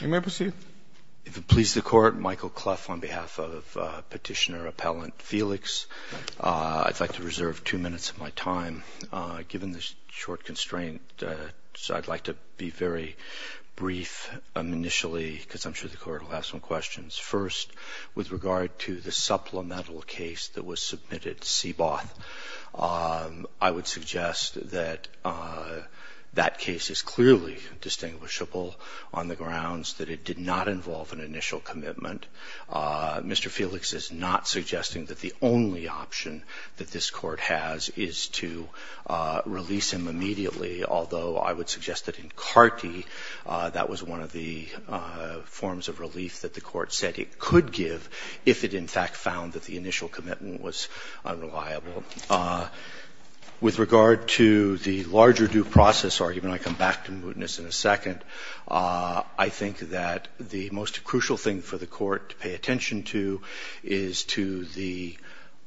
You may proceed. If it pleases the Court, Michael Cleff on behalf of Petitioner-Appellant Felix. I'd like to reserve two minutes of my time given this short constraint. So I'd like to be very brief initially because I'm sure the Court will have some questions. First, with regard to the supplemental case that was submitted to CBOT, I would suggest that that case is clearly distinguishable on the grounds that it did not involve an initial commitment. Mr. Felix is not suggesting that the only option that this Court has is to release him immediately, although I would suggest that in CARTI that was one of the forms of relief that the Court said it could give if it in fact found that the initial commitment was unreliable. With regard to the larger due process argument, I come back to mootness in a second. I think that the most crucial thing for the Court to pay attention to is to the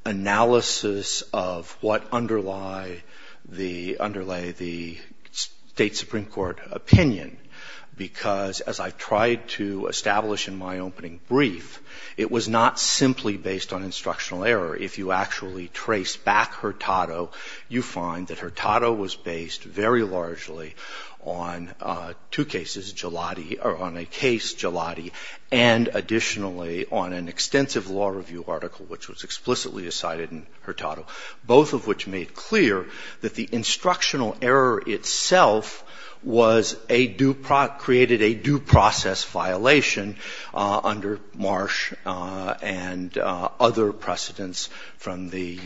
analysis of what underlie the underlay the State supreme court opinion, because as I tried to establish in my opening brief, it was not simply based on instructional error. If you actually trace back Hurtado, you find that Hurtado was based very largely on two cases, Gelati, or on a case, Gelati, and additionally on an extensive law review article, which was explicitly cited in Hurtado, both of which made clear that the instructional error itself was a due process, created a due process violation under Marsh and other precedents from the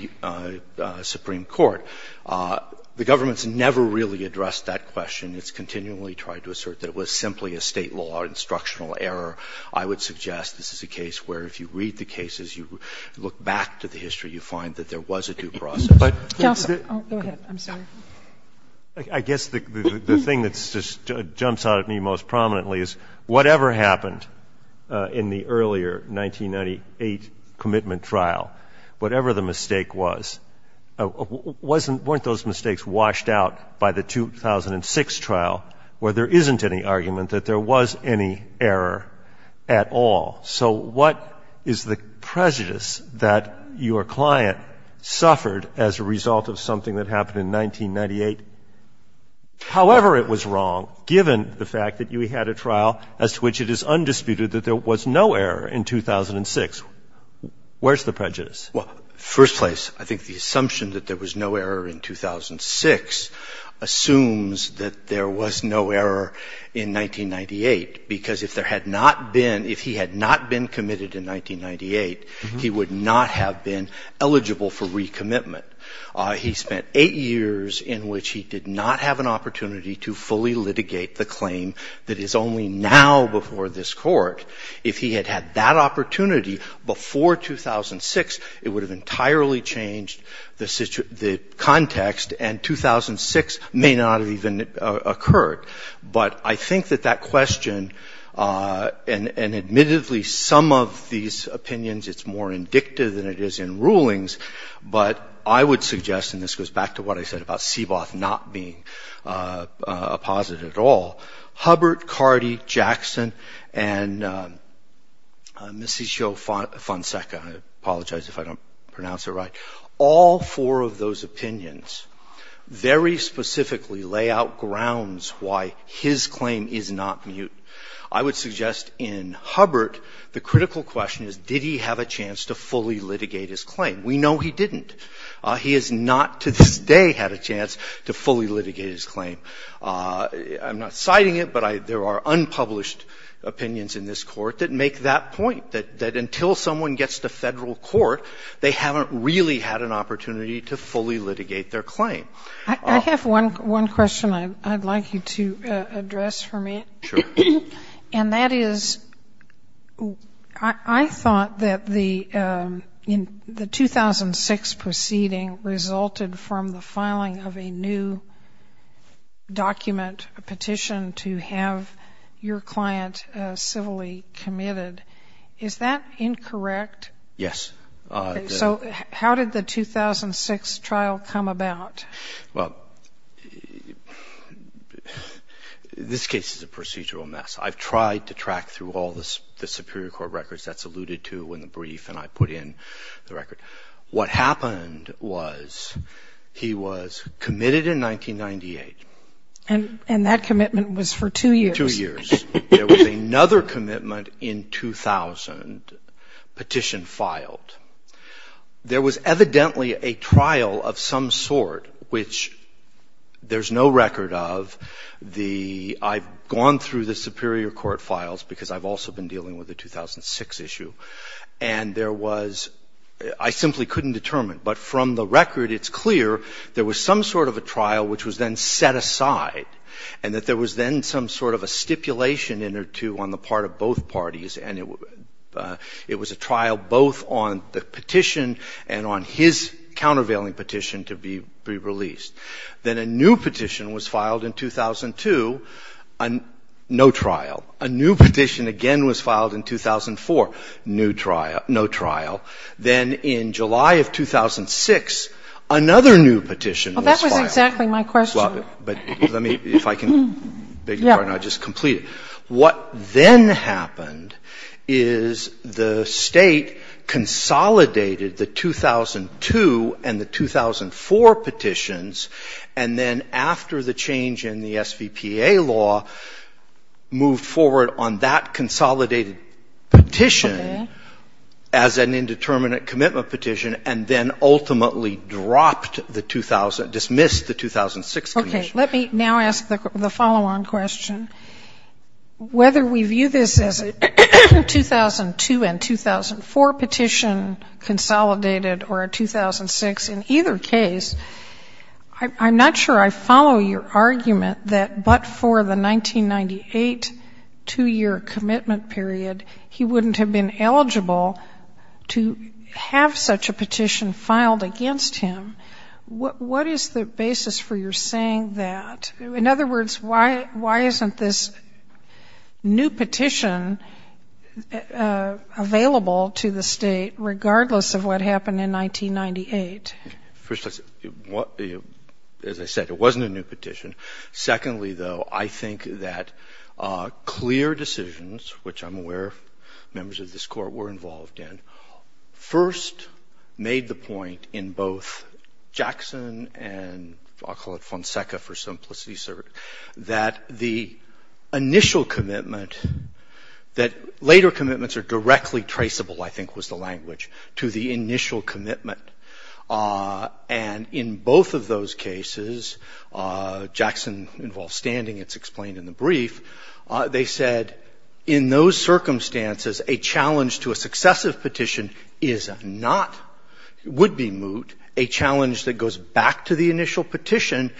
supreme court. The government's never really addressed that question. It's continually tried to assert that it was simply a State law instructional error. I would suggest this is a case where if you read the cases, you look back to the history, you find that there was a due process. Go ahead. I'm sorry. I guess the thing that jumps out at me most prominently is whatever happened in the earlier 1998 commitment trial, whatever the mistake was, weren't those mistakes washed out by the 2006 trial where there isn't any argument that there was any error at all? So what is the prejudice that your client suffered as a result of something that happened in 1998? However it was wrong, given the fact that you had a trial as to which it is undisputed that there was no error in 2006, where's the prejudice? Well, first place, I think the assumption that there was no error in 2006 assumes that there was no error in 1998, because if there had not been, if he had not been committed in 1998, he would not have been eligible for recommitment. He spent eight years in which he did not have an opportunity to fully litigate the claim that is only now before this Court. If he had had that opportunity before 2006, it would have entirely changed the context and 2006 may not have even occurred. But I think that that question, and admittedly some of these opinions, it's more indicative than it is in rulings, but I would suggest, and this goes back to what I said about Seaboth not being a positive at all, Hubbert, Cardi, Jackson, and Messiccio-Fonseca, I apologize if I don't pronounce it right, all four of those opinions very specifically lay out grounds why his claim is not mute. I would suggest in Hubbert the critical question is did he have a chance to fully litigate his claim? We know he didn't. He has not to this day had a chance to fully litigate his claim. I'm not citing it, but there are unpublished opinions in this Court that make that point, that until someone gets to Federal court, they haven't really had an opportunity to fully litigate their claim. I have one question I'd like you to address for me. Sure. And that is I thought that the 2006 proceeding resulted from the filing of a new document, a petition to have your client civilly committed. Is that incorrect? Yes. So how did the 2006 trial come about? Well, this case is a procedural mess. I've tried to track through all the Superior Court records. That's alluded to in the brief, and I put in the record. What happened was he was committed in 1998. And that commitment was for two years? Two years. There was another commitment in 2000, petition filed. There was evidently a trial of some sort, which there's no record of. The ‑‑ I've gone through the Superior Court files because I've also been dealing with the 2006 issue, and there was ‑‑ I simply couldn't determine. But from the record it's clear there was some sort of a trial which was then set aside and that there was then some sort of a stipulation in or to on the part of both parties, and it was a trial both on the petition and on his countervailing petition to be released. Then a new petition was filed in 2002, no trial. A new petition again was filed in 2004, no trial. Then in July of 2006, another new petition was filed. Well, that was exactly my question. But let me, if I can beg your pardon, I'll just complete it. What then happened is the State consolidated the 2002 and the 2004 petitions, and then after the change in the SVPA law, moved forward on that consolidated petition as an indeterminate commitment petition, and then ultimately dropped the 2000, dismissed the 2006 petition. Okay. Let me now ask the follow‑on question. Whether we view this as a 2002 and 2004 petition consolidated or a 2006, in either case, I'm not sure I follow your argument that but for the 1998 two‑year commitment period, he wouldn't have been eligible to have such a petition filed against him. What is the basis for your saying that? In other words, why isn't this new petition available to the State, regardless of what happened in 1998? First, as I said, it wasn't a new petition. Secondly, though, I think that clear decisions, which I'm aware members of this Court were involved in, first made the point in both Jackson and I'll call it Fonseca for simplicity's sake, that the initial commitment that later commitments are directly traceable, I think was the language, to the initial commitment. And in both of those cases, Jackson involves standing. It's explained in the brief. They said in those circumstances, a challenge to a successive petition is not, would be moot. A challenge that goes back to the initial petition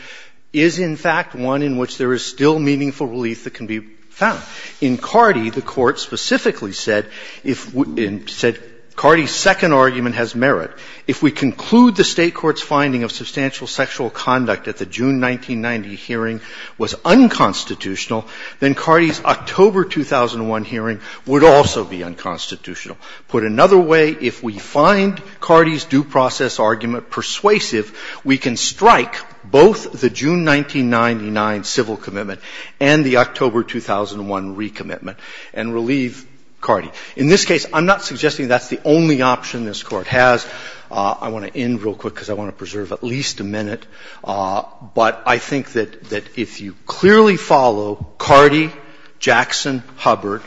is, in fact, one in which there is still meaningful relief that can be found. In Cardi, the Court specifically said if we – said Cardi's second argument has merit. If we conclude the State court's finding of substantial sexual conduct at the June 1990 hearing was unconstitutional, then Cardi's October 2001 hearing would also be unconstitutional. Put another way, if we find Cardi's due process argument persuasive, we can strike both the June 1999 civil commitment and the October 2001 recommitment and relieve Cardi. In this case, I'm not suggesting that's the only option this Court has. I want to end real quick because I want to preserve at least a minute. But I think that if you clearly follow Cardi, Jackson, Hubbard,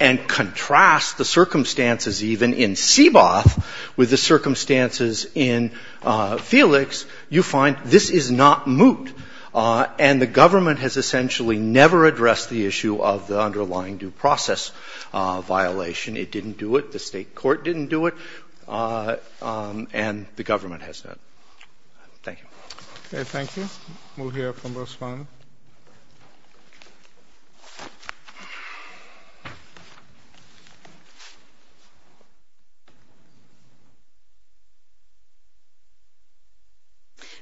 and contrast the circumstances even in Seaboth with the circumstances in Felix, you find this is not moot, and the government has essentially never addressed the issue of the underlying due process violation. It didn't do it, the State court didn't do it, and the government has not. Thank you. Okay, thank you. We'll hear from the respondent.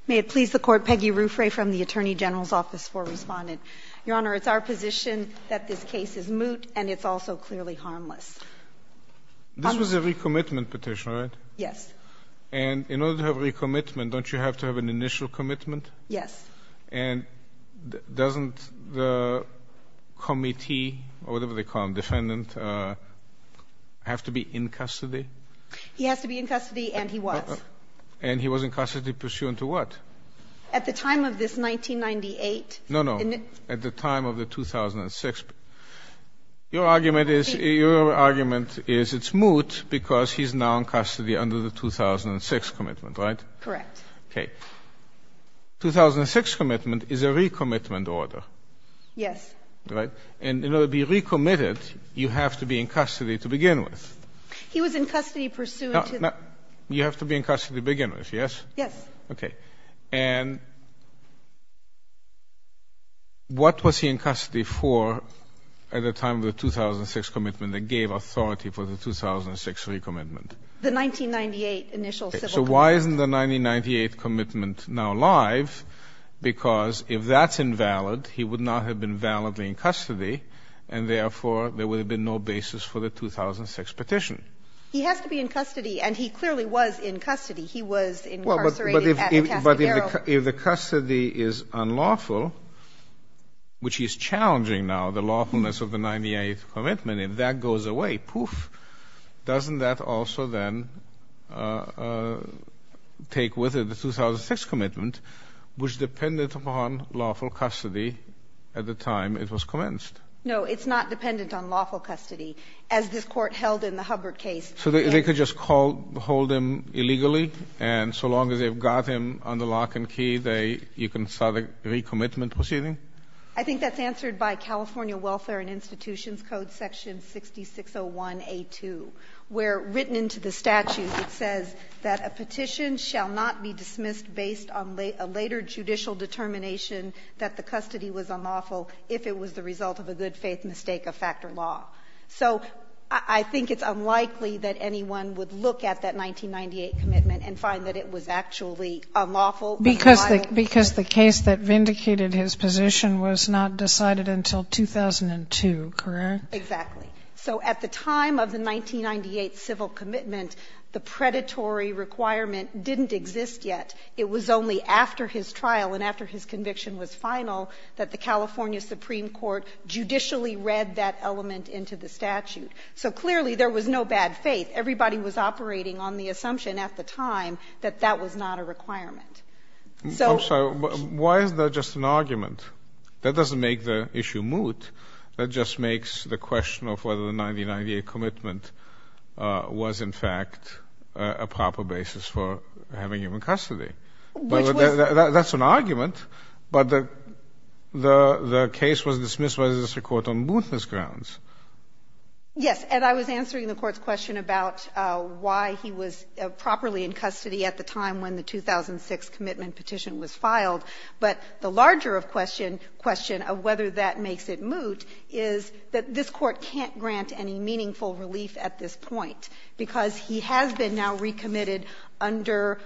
May it please the Court, Peggy Ruffray from the Attorney General's Office for Respondent. Your Honor, it's our position that this case is moot and it's also clearly harmless. This was a recommitment petition, right? Yes. And in order to have recommitment, don't you have to have an initial commitment? Yes. And doesn't the committee or whatever they call him, defendant, have to be in custody? He has to be in custody and he was. And he was in custody pursuant to what? At the time of this 1998. No, no. At the time of the 2006. Your argument is it's moot because he's now in custody under the 2006 commitment, right? Correct. Okay. 2006 commitment is a recommitment order. Yes. Right? And in order to be recommitted, you have to be in custody to begin with. He was in custody pursuant to. You have to be in custody to begin with, yes? Yes. Okay. And what was he in custody for at the time of the 2006 commitment that gave authority for the 2006 recommitment? The 1998 initial civil commitment. So why isn't the 1998 commitment now live? Because if that's invalid, he would not have been validly in custody and, therefore, there would have been no basis for the 2006 petition. He has to be in custody and he clearly was in custody. He was incarcerated. But if the custody is unlawful, which is challenging now the lawfulness of the 1998 commitment, if that goes away, poof, doesn't that also then take with it the 2006 commitment, which depended upon lawful custody at the time it was commenced? No, it's not dependent on lawful custody. As this Court held in the Hubbard case. So they could just hold him illegally and so long as they've got him under lock and key, you can start a recommitment proceeding? I think that's answered by California Welfare and Institutions Code section 6601A2 where, written into the statute, it says that a petition shall not be dismissed based on a later judicial determination that the custody was unlawful if it was the result of a good-faith mistake of factor law. So I think it's unlikely that anyone would look at that 1998 commitment and find that it was actually unlawful. Because the case that vindicated his position was not decided until 2002, correct? Exactly. So at the time of the 1998 civil commitment, the predatory requirement didn't exist yet. It was only after his trial and after his conviction was final that the California Supreme Court judicially read that element into the statute. So clearly there was no bad faith. Everybody was operating on the assumption at the time that that was not a requirement. I'm sorry, why is that just an argument? That doesn't make the issue moot. That just makes the question of whether the 1998 commitment was, in fact, a proper basis for having him in custody. But that's an argument. But the case was dismissed by the district court on mootness grounds. Yes. And I was answering the Court's question about why he was properly in custody at the time when the 2006 commitment petition was filed. But the larger question of whether that makes it moot is that this Court can't grant any meaningful relief at this point, because he has been now recommitted under,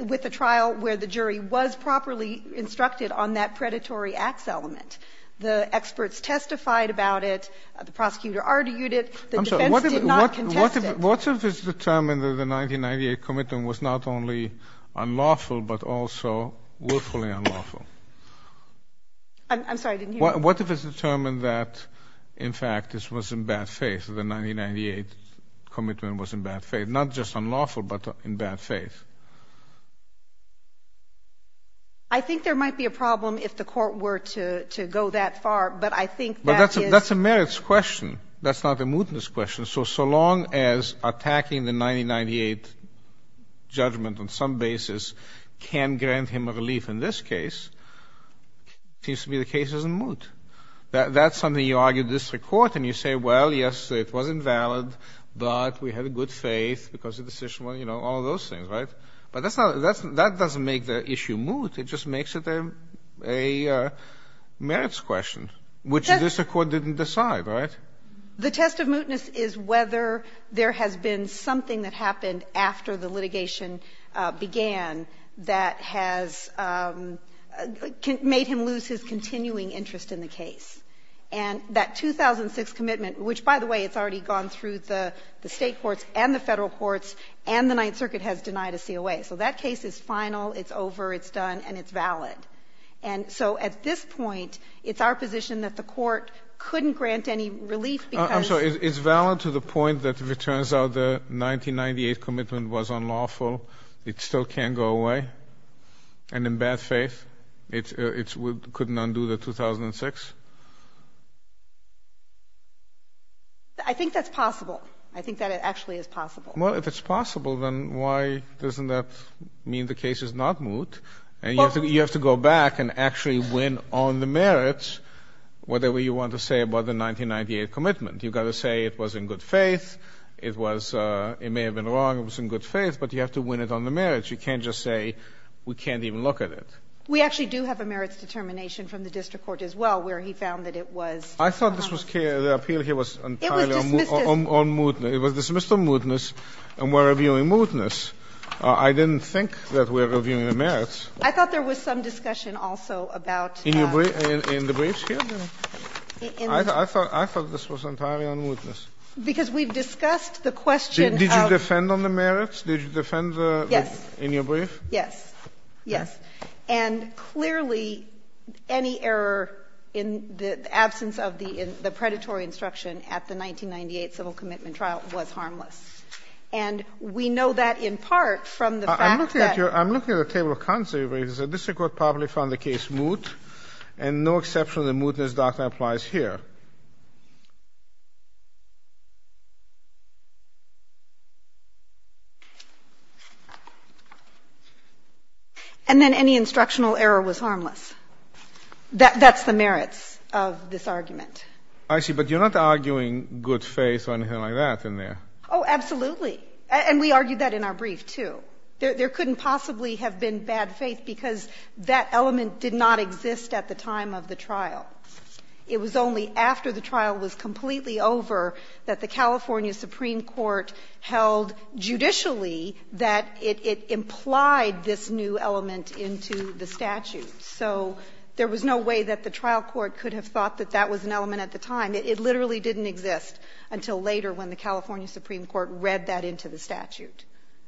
with a trial where the jury was properly instructed on that predatory acts element. The experts testified about it. The prosecutor argued it. The defense did not contest it. What if it's determined that the 1998 commitment was not only unlawful, but also willfully unlawful? I'm sorry, I didn't hear you. What if it's determined that, in fact, this was in bad faith, that the 1998 commitment was in bad faith, not just unlawful, but in bad faith? I think there might be a problem if the Court were to go that far, but I think that is. But that's a merits question. That's not a mootness question. So long as attacking the 1998 judgment on some basis can grant him relief in this case, it seems to be the case it's in moot. That's something you argue at district court, and you say, well, yes, it was invalid, but we had a good faith because the decision was, you know, all of those things. Right? But that doesn't make the issue moot. It just makes it a merits question, which the district court didn't decide. Right? The test of mootness is whether there has been something that happened after the litigation began that has made him lose his continuing interest in the case. And that 2006 commitment, which, by the way, it's already gone through the State courts and the Federal courts, and the Ninth Circuit has denied a COA. So that case is final, it's over, it's done, and it's valid. And so at this point, it's our position that the Court couldn't grant any relief because of this. Is this the point that if it turns out the 1998 commitment was unlawful, it still can't go away? And in bad faith, it couldn't undo the 2006? I think that's possible. I think that it actually is possible. Well, if it's possible, then why doesn't that mean the case is not moot? And you have to go back and actually win on the merits, whatever you want to say about the 1998 commitment. You've got to say it was in good faith, it was – it may have been wrong, it was in good faith, but you have to win it on the merits. You can't just say we can't even look at it. We actually do have a merits determination from the district court as well where he found that it was unlawful. I thought this was – the appeal here was entirely on mootness. It was dismissed as mootness, and we're reviewing mootness. I didn't think that we were reviewing the merits. I thought there was some discussion also about – In the briefs here? I thought this was entirely on mootness. Because we've discussed the question of – Did you defend on the merits? Did you defend the – Yes. In your brief? Yes. Yes. And clearly, any error in the absence of the predatory instruction at the 1998 civil commitment trial was harmless. And we know that in part from the fact that – I'm looking at your – I'm looking at the table of contents of your briefs. The district court probably found the case moot, and no exception to the mootness doctrine applies here. And then any instructional error was harmless. That's the merits of this argument. I see. But you're not arguing good faith or anything like that in there. Oh, absolutely. And we argued that in our brief, too. There couldn't possibly have been bad faith, because that element did not exist at the time of the trial. It was only after the trial was completely over that the California Supreme Court held judicially that it implied this new element into the statute. So there was no way that the trial court could have thought that that was an element at the time. It literally didn't exist until later when the California Supreme Court read that into the statute.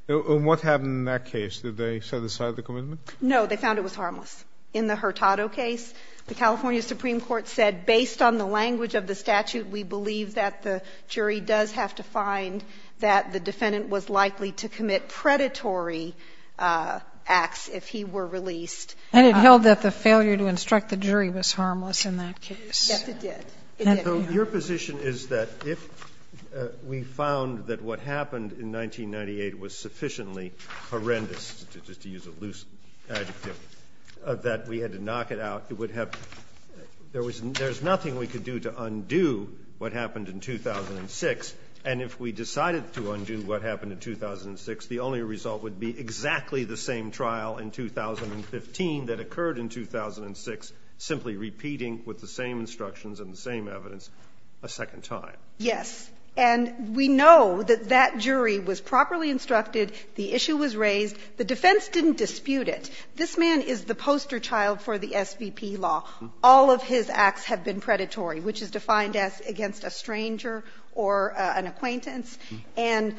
And what happened in that case? Did they set aside the commitment? No. They found it was harmless. In the Hurtado case, the California Supreme Court said, based on the language of the statute, we believe that the jury does have to find that the defendant was likely to commit predatory acts if he were released. And it held that the failure to instruct the jury was harmless in that case. Yes, it did. It did. So your position is that if we found that what happened in 1998 was sufficiently horrendous, just to use a loose adjective, that we had to knock it out, there's nothing we could do to undo what happened in 2006. And if we decided to undo what happened in 2006, the only result would be exactly the same trial in 2015 that occurred in 2006, simply repeating with the same evidence a second time. Yes. And we know that that jury was properly instructed. The issue was raised. The defense didn't dispute it. This man is the poster child for the SVP law. All of his acts have been predatory, which is defined as against a stranger or an acquaintance. And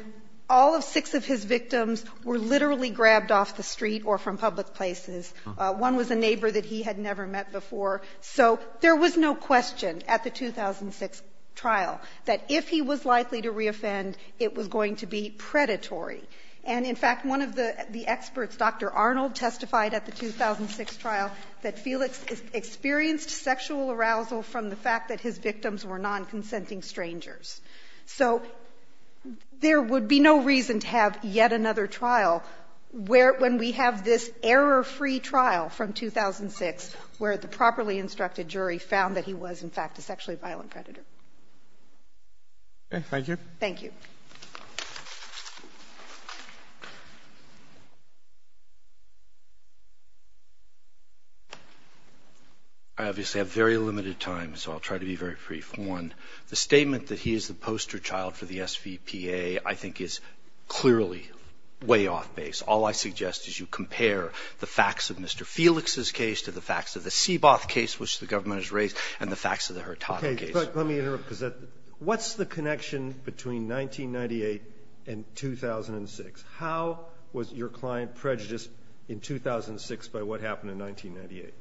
all of six of his victims were literally grabbed off the street or from public places. One was a neighbor that he had never met before. So there was no question at the 2006 trial that if he was likely to reoffend, it was going to be predatory. And in fact, one of the experts, Dr. Arnold, testified at the 2006 trial that Felix experienced sexual arousal from the fact that his victims were non-consenting strangers. So there would be no reason to have yet another trial when we have this error-free trial from 2006 where the properly instructed jury found that he was, in fact, a sexually violent predator. Okay. Thank you. Thank you. I obviously have very limited time, so I'll try to be very brief. One, the statement that he is the poster child for the SVPA, I think, is clearly way off base. All I suggest is you compare the facts of Mr. Felix's case to the facts of the Seaboth case, which the government has raised, and the facts of the Hurtado case. Okay. But let me interrupt, because what's the connection between 1998 and 2006? How was your client prejudiced in 2006 by what happened in 1998?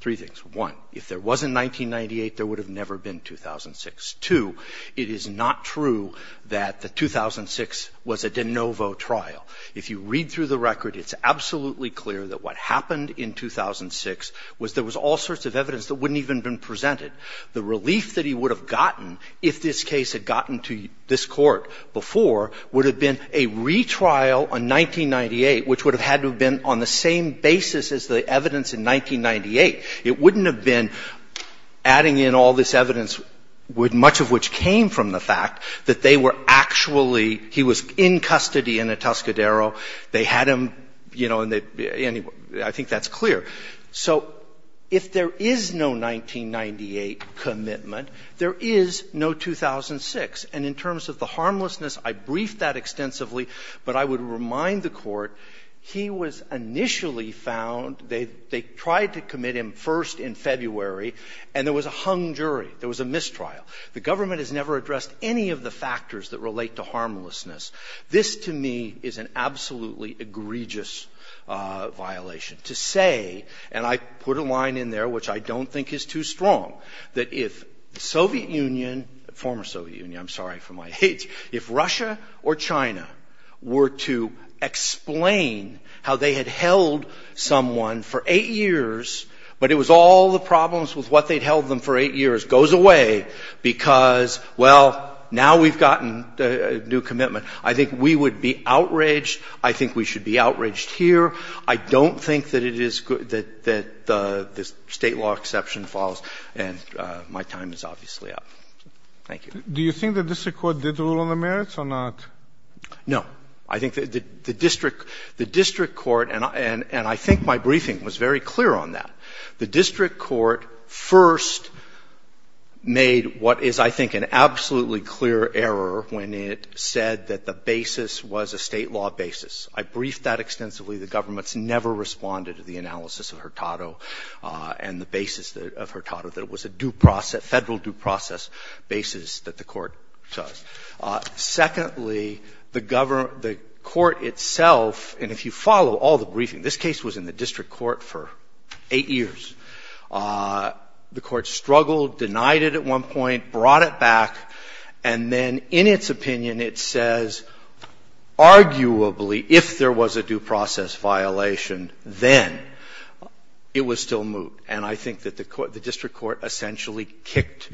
Three things. One, if there was a 1998, there would have never been 2006. Two, it is not true that the 2006 was a de novo trial. If you read through the record, it's absolutely clear that what happened in 2006 was there was all sorts of evidence that wouldn't even have been presented. The relief that he would have gotten if this case had gotten to this Court before would have been a retrial on 1998, which would have had to have been on the same basis as the evidence in 1998. It wouldn't have been adding in all this evidence, much of which came from the fact that they were actually he was in custody in a Tuscadero. They had him, you know, and I think that's clear. So if there is no 1998 commitment, there is no 2006. And in terms of the harmlessness, I briefed that extensively, but I would remind the Court he was initially found, they tried to commit him first in February, and there was a hung jury. There was a mistrial. The government has never addressed any of the factors that relate to harmlessness. This, to me, is an absolutely egregious violation. To say, and I put a line in there which I don't think is too strong, that if the Soviet Union, former Soviet Union, I'm sorry for my age, if Russia or China were to explain how they had held someone for 8 years, but it was all the problems with what they'd held them for 8 years, goes away because, well, now we've gotten a new commitment. I think we would be outraged. I think we should be outraged here. I don't think that it is good that the State law exception falls. And my time is obviously up. Thank you. Do you think the district court did rule on the merits or not? No. I think the district court, and I think my briefing was very clear on that. The district court first made what is, I think, an absolutely clear error when it said that the basis was a State law basis. I briefed that extensively. The government's never responded to the analysis of Hurtado and the basis of Hurtado, that it was a due process, Federal due process basis that the court chose. Secondly, the court itself, and if you follow all the briefing, this case was in the district court for 8 years. The court struggled, denied it at one point, brought it back, and then in its opinion it says arguably if there was a due process violation, then it was still moot. And I think that the district court essentially kicked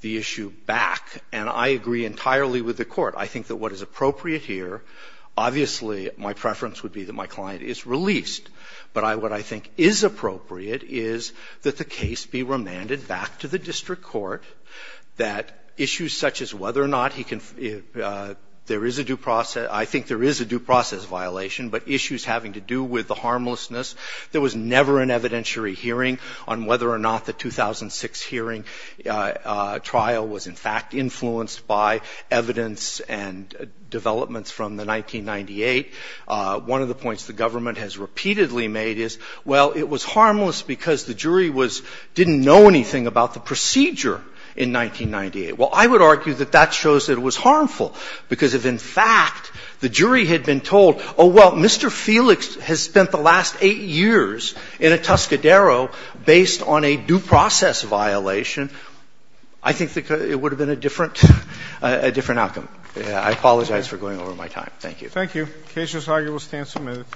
the issue back. And I agree entirely with the court. I think that what is appropriate here, obviously my preference would be that my client is released, but what I think is appropriate is that the case be remanded back to the district court, that issues such as whether or not he can – there is a due process – I think there is a due process violation, but issues having to do with the harmlessness. There was never an evidentiary hearing on whether or not the 2006 hearing trial was in fact influenced by evidence and developments from the 1998. One of the points the government has repeatedly made is, well, it was harmless because the jury was – didn't know anything about the procedure in 1998. Well, I would argue that that shows that it was harmful, because if in fact the jury had been told, oh, well, Mr. Felix has spent the last 8 years in a Tuscadero based on a due process violation, I think it would have been a different – a different outcome. I apologize for going over my time. Thank you. Thank you. The case is argued and will stand submitted.